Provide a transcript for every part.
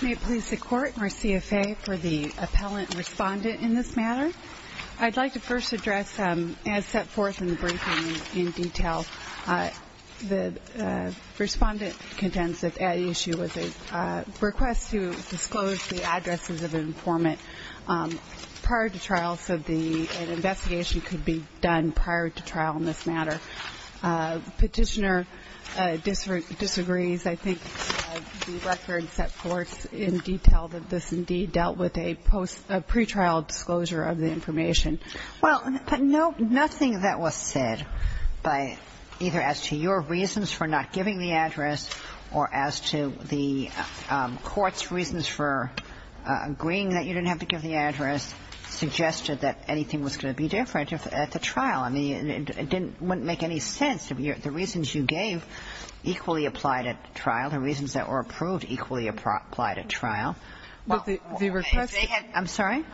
May it please the Court and our CFA for the appellant and respondent in this matter. I'd like to first address, as set forth in the briefing in detail, the respondent contends that the issue was a request to disclose the addresses of an informant prior to trial so an investigation could be done prior to trial in this matter. The petitioner disagrees. I think the record set forth in detail that this indeed dealt with a pretrial disclosure of the information. Well, nothing that was said either as to your reasons for not giving the address or as to the Court's reasons for agreeing that you didn't have to give the address suggested that anything was going to be different at the trial. I mean, it wouldn't make any sense. The reasons you gave equally apply to trial. The reasons that were approved equally apply to trial. I'm sorry? I'm sorry.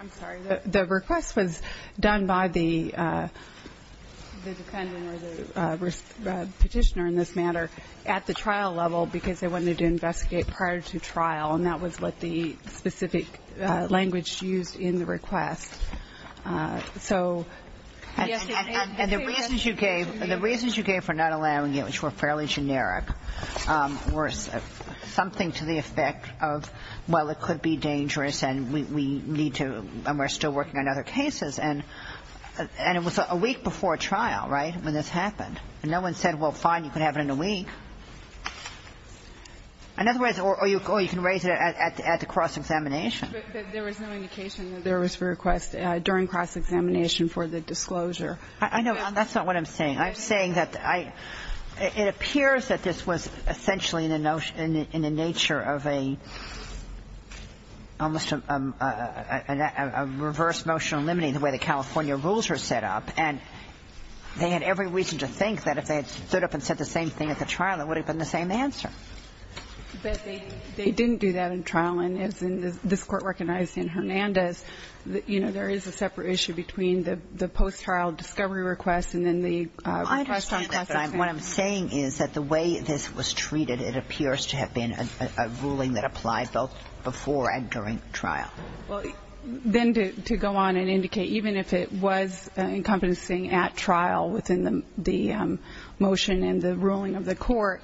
The request was done by the defendant or the petitioner in this matter at the trial level because they wanted to investigate prior to trial, and that was what the specific language used in the request. And the reasons you gave for not allowing it, which were fairly generic, were something to the effect of, well, it could be dangerous and we need to, and we're still working on other cases. And it was a week before trial, right, when this happened. And no one said, well, fine, you can have it in a week. In other words, or you can raise it at the cross-examination. But there was no indication that there was a request during cross-examination for the disclosure. I know. That's not what I'm saying. I'm saying that I – it appears that this was essentially in the nature of a – almost a reverse motion eliminating the way the California rules were set up. And they had every reason to think that if they had stood up and said the same thing at the trial, it would have been the same answer. But they didn't do that in trial, and as this Court recognized in Hernandez, you know, there is a separate issue between the post-trial discovery request and then the request on cross-examination. What I'm saying is that the way this was treated, it appears to have been a ruling that applied both before and during trial. Well, then to go on and indicate, even if it was encompassing at trial within the motion and the ruling of the court,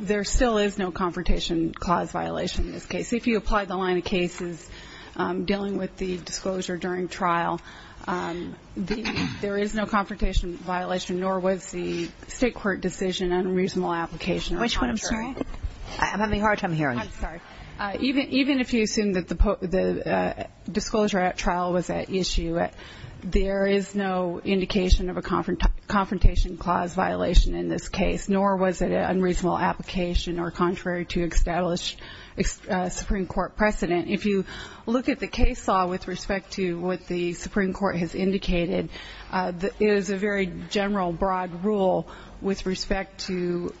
there still is no confrontation clause violation in this case. If you apply the line of cases dealing with the disclosure during trial, there is no confrontation violation, nor was the state court decision unreasonable application or contrary. Which one, I'm sorry? I'm having a hard time hearing. I'm sorry. Even if you assume that the disclosure at trial was at issue, there is no indication of a confrontation clause violation in this case, nor was it an unreasonable application or contrary to established Supreme Court precedent. If you look at the case law with respect to what the Supreme Court has indicated, it is a very general broad rule with respect to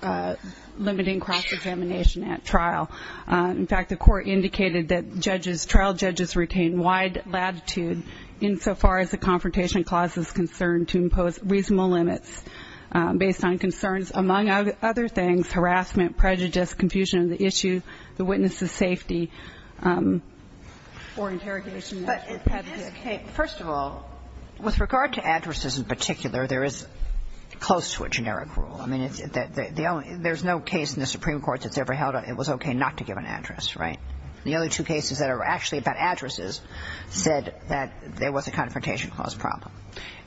limiting cross-examination at trial. In fact, the court indicated that trial judges retain wide latitude insofar as the confrontation clause is concerned to impose reasonable limits based on concerns, among other things, harassment, prejudice, confusion of the issue, the witness's safety, or interrogation. But in this case, first of all, with regard to addresses in particular, there is close to a generic rule. I mean, it's the only – there's no case in the Supreme Court that's ever held that it was okay not to give an address, right? The only two cases that are actually about addresses said that there was a confrontation clause problem.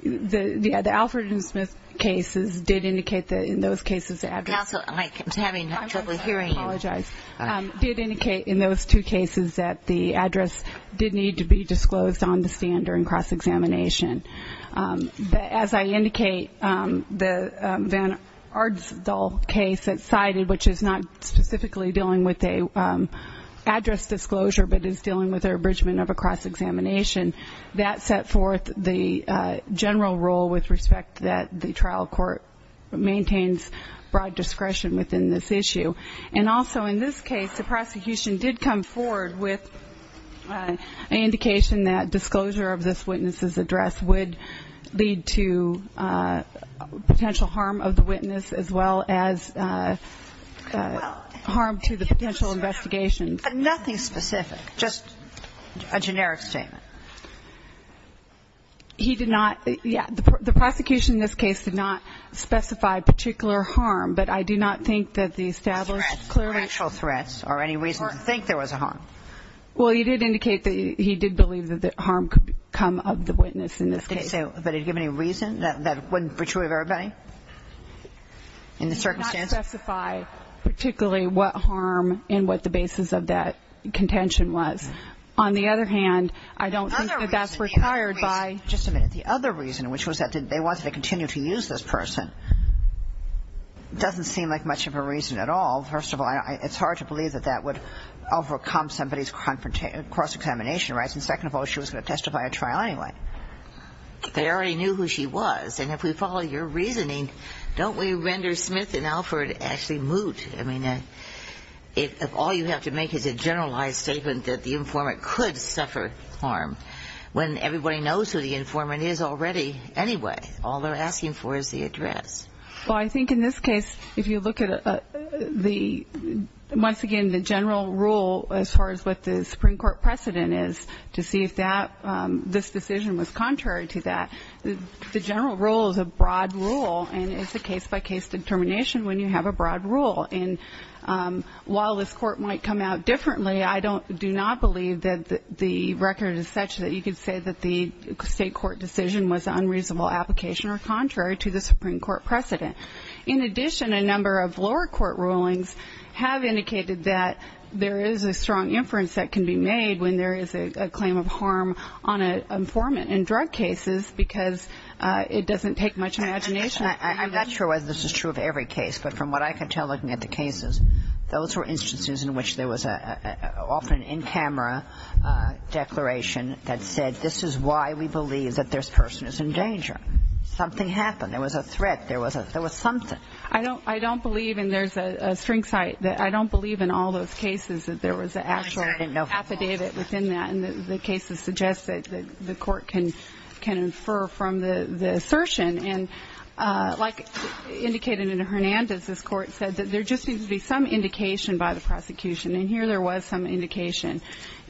Yeah. The Alfred and Smith cases did indicate that in those cases the address – Counsel, I'm having trouble hearing you. I'm sorry. I apologize. Did indicate in those two cases that the address did need to be disclosed on the stand during cross-examination. But as I indicate, the Van Aardsdal case that's cited, which is not specifically dealing with an address disclosure but is dealing with an abridgment of a cross-examination, that set forth the general rule with respect that the trial court maintains broad discretion within this issue. And also in this case, the prosecution did come forward with an indication that disclosure of this witness's address would lead to potential harm of the witness as well as harm to the potential investigation. Nothing specific. Just a generic statement. He did not – yeah. The prosecution in this case did not specify particular harm, but I do not think that the established clearly – Threats, actual threats, or any reason to think there was a harm. Well, he did indicate that he did believe that harm could come of the witness in this case. But did he give any reason? That wouldn't be true of everybody in the circumstances? He did not specify particularly what harm and what the basis of that contention was. On the other hand, I don't think that that's required by – Just a minute. The other reason, which was that they wanted to continue to use this person, doesn't seem like much of a reason at all. First of all, it's hard to believe that that would overcome somebody's cross-examination rights, and second of all, she was going to testify at trial anyway. They already knew who she was, and if we follow your reasoning, don't we render Smith and Alford actually moot? I mean, if all you have to make is a generalized statement that the informant could suffer harm, when everybody knows who the informant is already anyway, all they're asking for is the address. Well, I think in this case, if you look at the – once again, the general rule as far as what the Supreme Court precedent is, to see if this decision was contrary to that. The general rule is a broad rule, and it's a case-by-case determination when you have a broad rule. And while this court might come out differently, I do not believe that the record is such that you could say that the state court decision was an unreasonable application or contrary to the Supreme Court precedent. In addition, a number of lower court rulings have indicated that there is a strong inference that can be made when there is a claim of harm on an informant in drug cases because it doesn't take much imagination. I'm not sure whether this is true of every case, but from what I can tell looking at the cases, those were instances in which there was often an in-camera declaration that said, this is why we believe that this person is in danger. Something happened. There was a threat. There was something. I don't believe, and there's a string site, that I don't believe in all those cases that there was an actual affidavit within that. And the cases suggest that the court can infer from the assertion. And like indicated in Hernandez, this court said that there just needs to be some indication by the prosecution. And here there was some indication.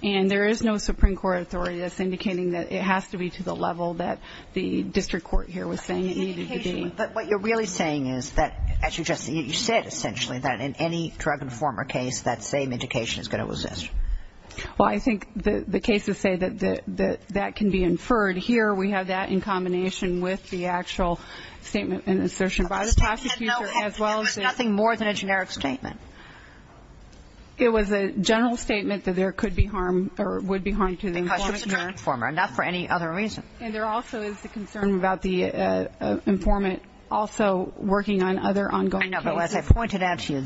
And there is no Supreme Court authority that's indicating that it has to be to the level that the district court here was saying it needed to be. But what you're really saying is that, as you just said, essentially that in any drug informer case that same indication is going to exist. Well, I think the cases say that that can be inferred. Here we have that in combination with the actual statement and assertion by the prosecutor. It was nothing more than a generic statement. It was a general statement that there could be harm or would be harm to the informant. Because it was a drug informer, not for any other reason. And there also is the concern about the informant also working on other ongoing cases. No, but as I pointed out to you,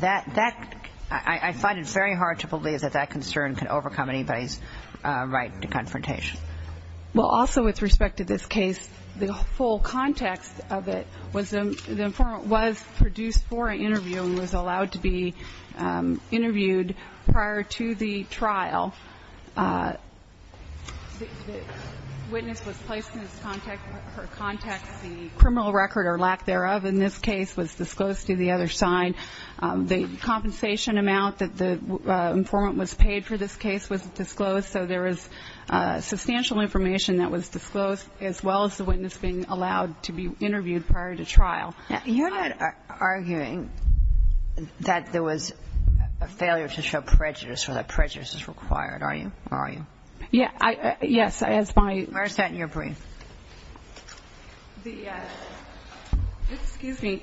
I find it very hard to believe that that concern can overcome anybody's right to confrontation. Well, also with respect to this case, the full context of it was the informant was produced for an interview and was allowed to be interviewed prior to the trial. The witness was placed in her context. The criminal record or lack thereof in this case was disclosed to the other side. The compensation amount that the informant was paid for this case was disclosed. So there is substantial information that was disclosed, as well as the witness being allowed to be interviewed prior to trial. You're not arguing that there was a failure to show prejudice or that prejudice is required, are you? Yes. Where is that in your brief? Excuse me.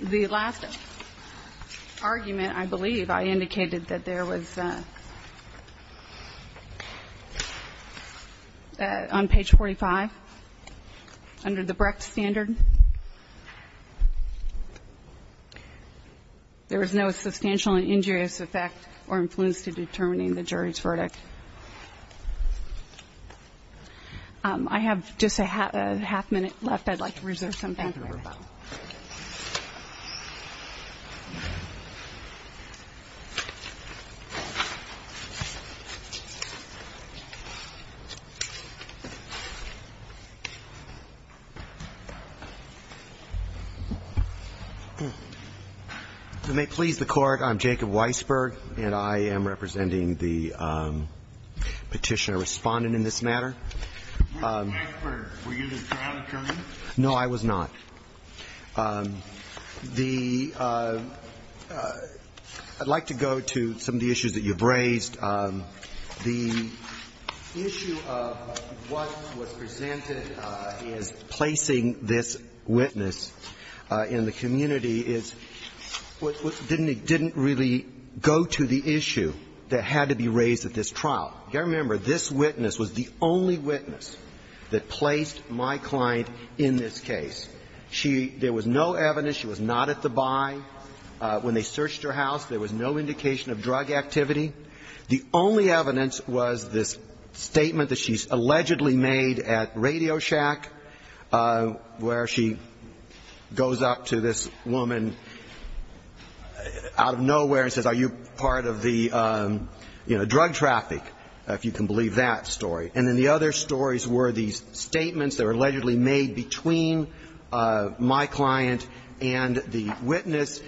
The last argument, I believe, I indicated that there was, on page 45, under the Brecht standard, there was no substantial injurious effect or influence to determining the jury's verdict. I have just a half minute left. If I'd like to reserve some time. If it may please the Court, I'm Jacob Weisberg, and I am representing the Petitioner-Respondent in this matter. Mr. Weisberg, were you the trial attorney? No, I was not. I'd like to go to some of the issues that you've raised. The issue of what was presented as placing this witness in the community is what didn't really go to the issue that had to be raised at this trial. You've got to remember, this witness was the only witness that placed my client in this case. She – there was no evidence. She was not at the buy. When they searched her house, there was no indication of drug activity. The only evidence was this statement that she allegedly made at Radio Shack where she goes up to this woman out of nowhere and says, are you part of the drug traffic, if you can believe that story. And then the other stories were these statements that were allegedly made between my client and the witness,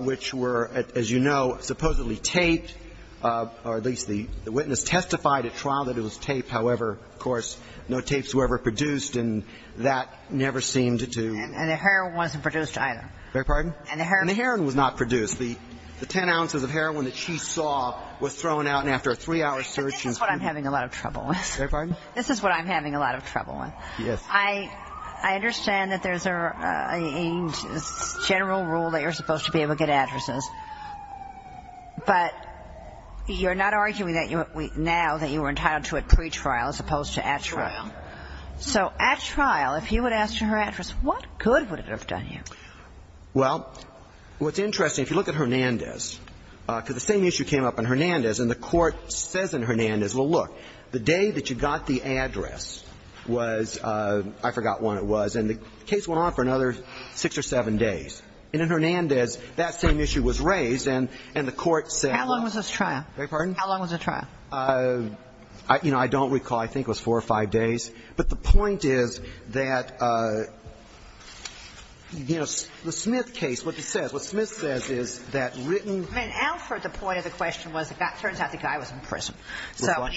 which were, as you know, supposedly taped. Or at least the witness testified at trial that it was taped. However, of course, no tapes were ever produced, and that never seemed to do. And the heroin wasn't produced either. Beg your pardon? And the heroin was not produced. The ten ounces of heroin that she saw was thrown out. And after a three-hour search and – But this is what I'm having a lot of trouble with. Beg your pardon? This is what I'm having a lot of trouble with. Yes. I understand that there's a general rule that you're supposed to be able to get addresses. But you're not arguing now that you were entitled to it pretrial as opposed to at trial. At trial. So at trial, if you would ask her address, what good would it have done you? Well, what's interesting, if you look at Hernandez, because the same issue came up in Hernandez, and the Court says in Hernandez, well, look, the day that you got the address was – I forgot when it was, and the case went on for another six or seven days. And in Hernandez, that same issue was raised, and the Court said – How long was this trial? Beg your pardon? How long was the trial? You know, I don't recall. I think it was four or five days. But the point is that, you know, the Smith case, what it says, what Smith says is that written – I mean, in Alford, the point of the question was it turns out the guy was in prison. Which one?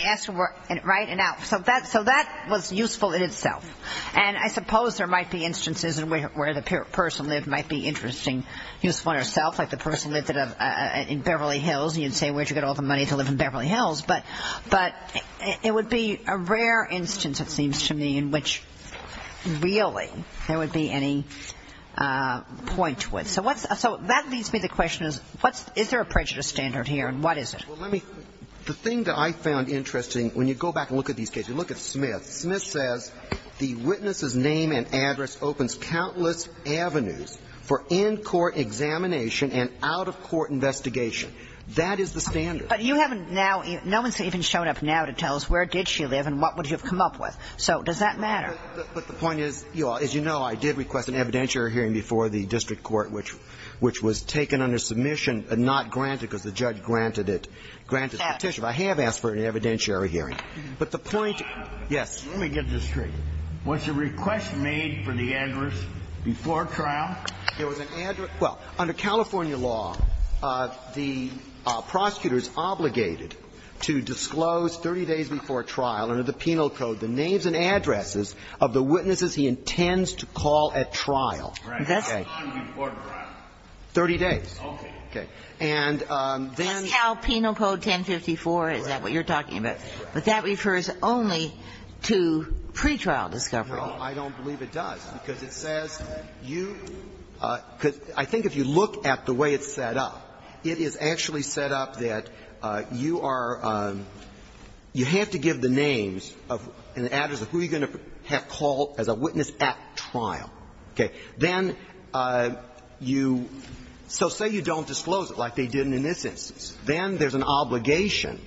Right? In Alford. So that was useful in itself. And I suppose there might be instances where the person lived might be interesting, useful in itself. Like the person lived in Beverly Hills, and you'd say, where did you get all the money to live in Beverly Hills? But it would be a rare instance, it seems to me, in which really there would be any point to it. So what's – so that leads me to the question is, what's – is there a prejudice standard here, and what is it? Well, let me – the thing that I found interesting, when you go back and look at these cases, you look at Smith. Smith says the witness's name and address opens countless avenues for in-court examination and out-of-court investigation. That is the standard. But you haven't now – no one's even shown up now to tell us where did she live and what would you have come up with. So does that matter? But the point is, as you know, I did request an evidentiary hearing before the district court, which was taken under submission and not granted because the judge granted it – granted the petition. I have asked for an evidentiary hearing. But the point – yes. Let me get this straight. Was the request made for the address before trial? There was an address – well, under California law, the prosecutor is obligated to disclose 30 days before trial under the penal code the names and addresses of the witnesses he intends to call at trial. Right. Okay. How long before trial? Thirty days. Okay. Okay. And then the – That's how Penal Code 1054 – is that what you're talking about? Right. But that refers only to pretrial discovery. Well, I don't believe it does because it says you – because I think if you look at the way it's set up, it is actually set up that you are – you have to give the names and the address of who you're going to have called as a witness at trial. Okay. Then you – so say you don't disclose it like they didn't in this instance. Then there's an obligation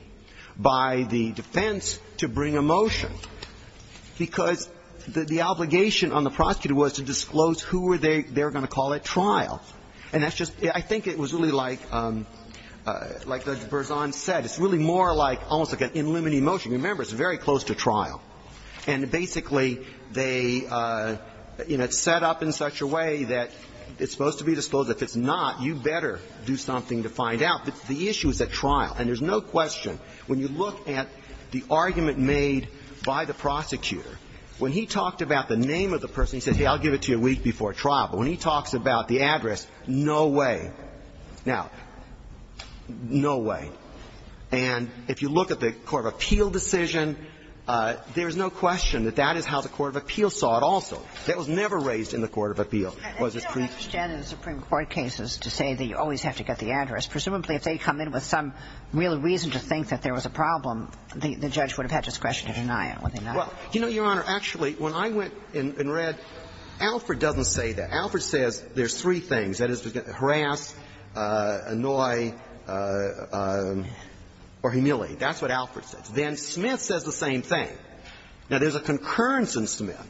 by the defense to bring a motion, because the obligation on the prosecutor was to disclose who they were going to call at trial. And that's just – I think it was really like Judge Berzon said. It's really more like – almost like an in limine motion. Remember, it's very close to trial. And basically, they – you know, it's set up in such a way that it's supposed to be disclosed. If it's not, you better do something to find out. But the issue is at trial. And there's no question, when you look at the argument made by the prosecutor, when he talked about the name of the person, he said, hey, I'll give it to you a week before trial, but when he talks about the address, no way. Now, no way. And if you look at the court of appeal decision, there's no question that that is how the court of appeal saw it also. That was never raised in the court of appeal. It was a pre… Well, I understand in the Supreme Court cases to say that you always have to get the address. Presumably, if they come in with some real reason to think that there was a problem, the judge would have had discretion to deny it, wouldn't he not? Well, you know, Your Honor, actually, when I went and read, Alfred doesn't say that. Alfred says there's three things. That is, harass, annoy or humiliate. That's what Alfred says. Then Smith says the same thing. Now, there's a concurrence in Smith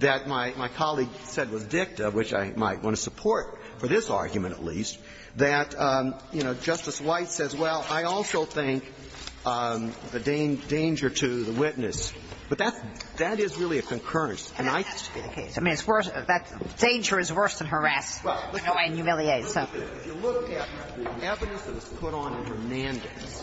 that my colleague said was dicta, which I might want to support for this argument at least, that, you know, Justice White says, well, I also think the danger to the witness, but that is really a concurrence. And I think that has to be the case. I mean, it's worse. Danger is worse than harass and humiliate. If you look at the evidence that was put on in Hernandez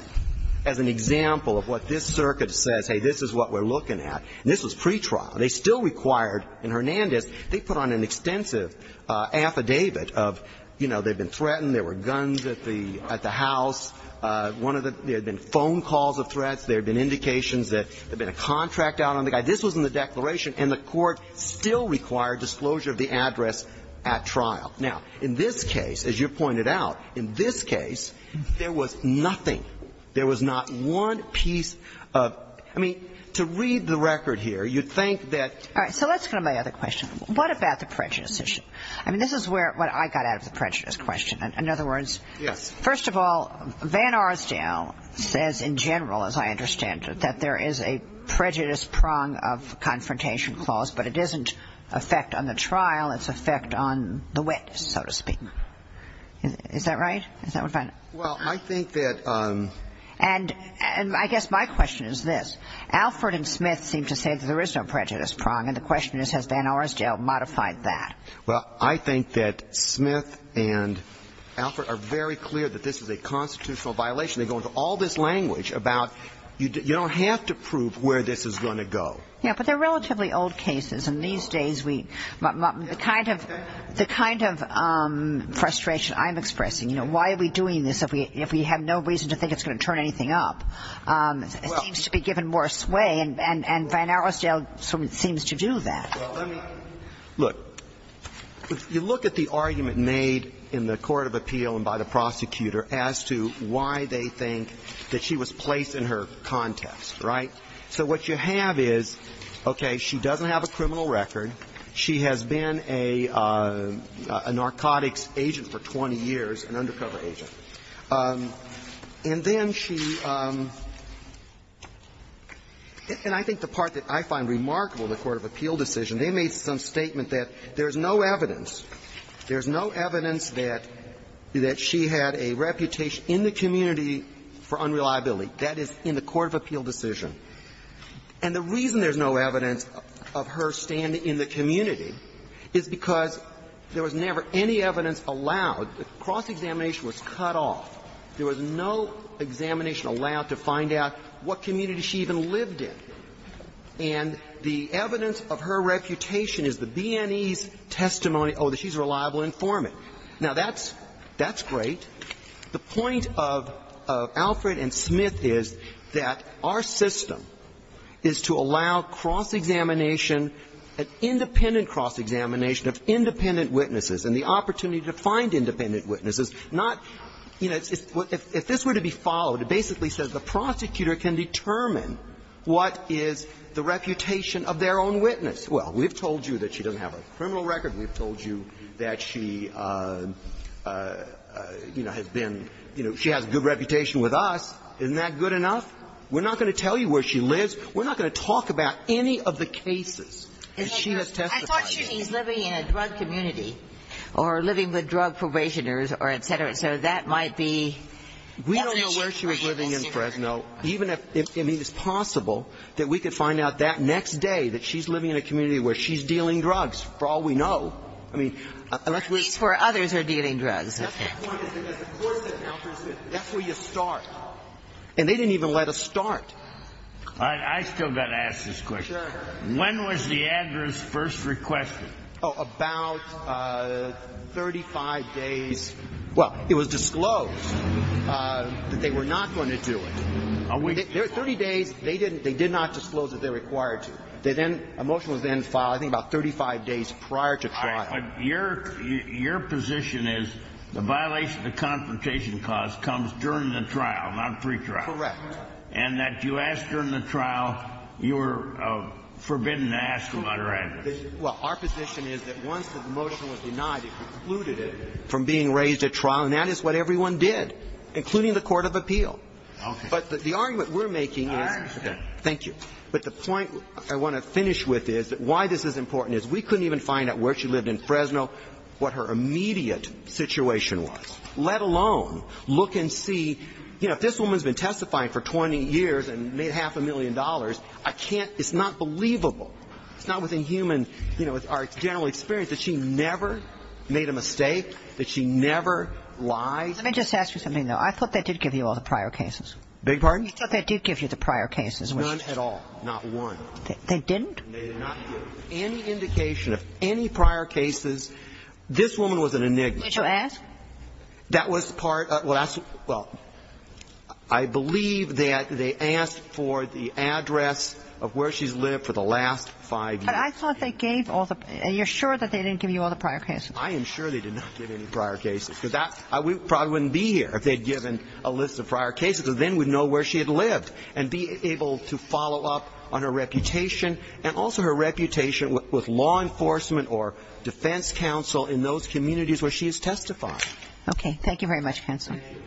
as an example of what this is what we're looking at, and this was pretrial. They still required in Hernandez, they put on an extensive affidavit of, you know, they've been threatened, there were guns at the house. One of the – there had been phone calls of threats. There had been indications that there had been a contract out on the guy. This was in the declaration. And the Court still required disclosure of the address at trial. Now, in this case, as you pointed out, in this case, there was nothing. There was not one piece of – I mean, to read the record here, you'd think that – All right. So let's go to my other question. What about the prejudice issue? I mean, this is where – what I got out of the prejudice question. In other words – Yes. First of all, Van Arsdale says in general, as I understand it, that there is a prejudice prong of confrontation clause, but it isn't effect on the trial. It's effect on the witness, so to speak. Is that right? Is that what Van – Well, I think that – And I guess my question is this. Alford and Smith seem to say that there is no prejudice prong. And the question is, has Van Arsdale modified that? Well, I think that Smith and Alford are very clear that this is a constitutional violation. They go into all this language about you don't have to prove where this is going to go. Yeah, but they're relatively old cases. And these days, we – the kind of – the kind of frustration I'm expressing, you know, why are we doing this if we have no reason to think it's going to turn anything up, seems to be given more sway. And Van Arsdale seems to do that. Well, let me – look. If you look at the argument made in the court of appeal and by the prosecutor as to why they think that she was placed in her context, right? So what you have is, okay, she doesn't have a criminal record. She has been a narcotics agent for 20 years, an undercover agent. And then she – and I think the part that I find remarkable in the court of appeal decision, they made some statement that there is no evidence, there is no evidence that she had a reputation in the community for unreliability. That is in the court of appeal decision. And the reason there's no evidence of her standing in the community is because there was never any evidence allowed. The cross-examination was cut off. There was no examination allowed to find out what community she even lived in. And the evidence of her reputation is the B&E's testimony, oh, she's a reliable informant. Now, that's – that's great. The point of Alfred and Smith is that our system is to allow cross-examination, an independent cross-examination of independent witnesses, and the opportunity to find independent witnesses, not, you know, if this were to be followed, it basically says the prosecutor can determine what is the reputation of their own witness. Well, we've told you that she doesn't have a criminal record. We've told you that she, you know, has been, you know, she has a good reputation with us. Isn't that good enough? We're not going to tell you where she lives. We're not going to talk about any of the cases that she has testified in. Ginsburg. I thought she was living in a drug community or living with drug probationers or et cetera. So that might be evidence. We don't know where she was living in Fresno. I mean, it's possible that we could find out that next day that she's living in a community where she's dealing drugs, for all we know. I mean – At least where others are dealing drugs. That's the point. That's where you start. And they didn't even let us start. I still got to ask this question. Sure. When was the address first requested? Oh, about 35 days – well, it was disclosed that they were not going to do it. 30 days, they did not disclose that they were required to. A motion was then filed, I think, about 35 days prior to trial. Your position is the violation of the confrontation clause comes during the trial, not pre-trial. Correct. And that you asked during the trial, you were forbidden to ask about her address. Well, our position is that once the motion was denied, it precluded it from being raised at trial. And that is what everyone did, including the court of appeal. Okay. But the argument we're making is – All right. Okay. Thank you. But the point I want to finish with is that why this is important is we couldn't even find out where she lived in Fresno, what her immediate situation was, let alone look and see – you know, if this woman's been testifying for 20 years and made half a million dollars, I can't – it's not believable. It's not within human – you know, our general experience that she never made a mistake, that she never lied. Let me just ask you something, though. I thought they did give you all the prior cases. Big pardon? I thought they did give you the prior cases. None at all. Not one. They didn't? They did not give any indication of any prior cases. This woman was an enigma. Did you ask? That was part – well, that's – well, I believe that they asked for the address of where she's lived for the last five years. But I thought they gave all the – are you sure that they didn't give you all the prior cases? I am sure they did not give any prior cases, because that – we probably wouldn't be here if they'd given a list of prior cases, because then we'd know where she had lived and be able to follow up on her reputation and also her reputation with law enforcement or defense counsel in those communities where she has testified. Okay. Thank you very much, counsel. Thank you.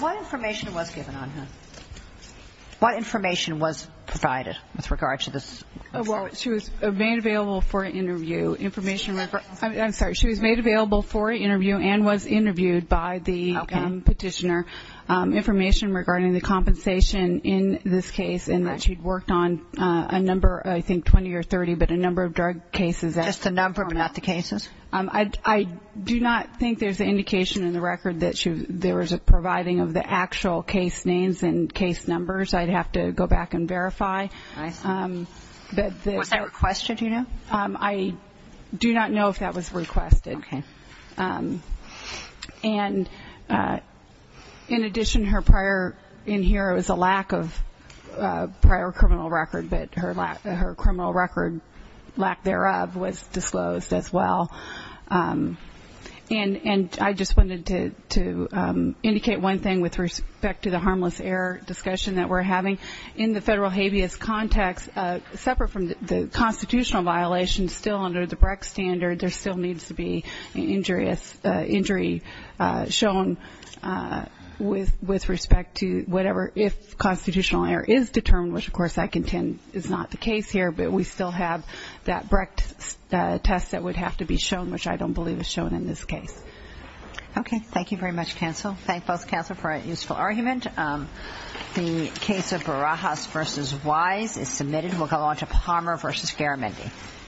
What information was given on her? What information was provided with regard to this? Well, she was made available for an interview, information – I'm sorry. She was made available for an interview and was interviewed by the petitioner, information regarding the compensation in this case and that she'd worked on a number, I think 20 or 30, but a number of drug cases. Just the number, but not the cases? I do not think there's an indication in the record that there was a providing of the actual case names and case numbers. I'd have to go back and verify. I see. Was that requested, do you know? I do not know if that was requested. Okay. And in addition, her prior – in here it was a lack of prior criminal record, but her criminal record, lack thereof, was disclosed as well. And I just wanted to indicate one thing with respect to the harmless error discussion that we're having. In the federal habeas context, separate from the constitutional violations, still under the Brecht standard, there still needs to be injury shown with respect to whatever, if constitutional error is determined, which, of course, I contend is not the case here, but we still have that Brecht test that would have to be shown, which I don't believe is shown in this case. Okay. Thank you very much, counsel. Thank both counsel for a useful argument. The case of Barajas v. Wise is submitted. We'll go on to Palmer v. Garamendi.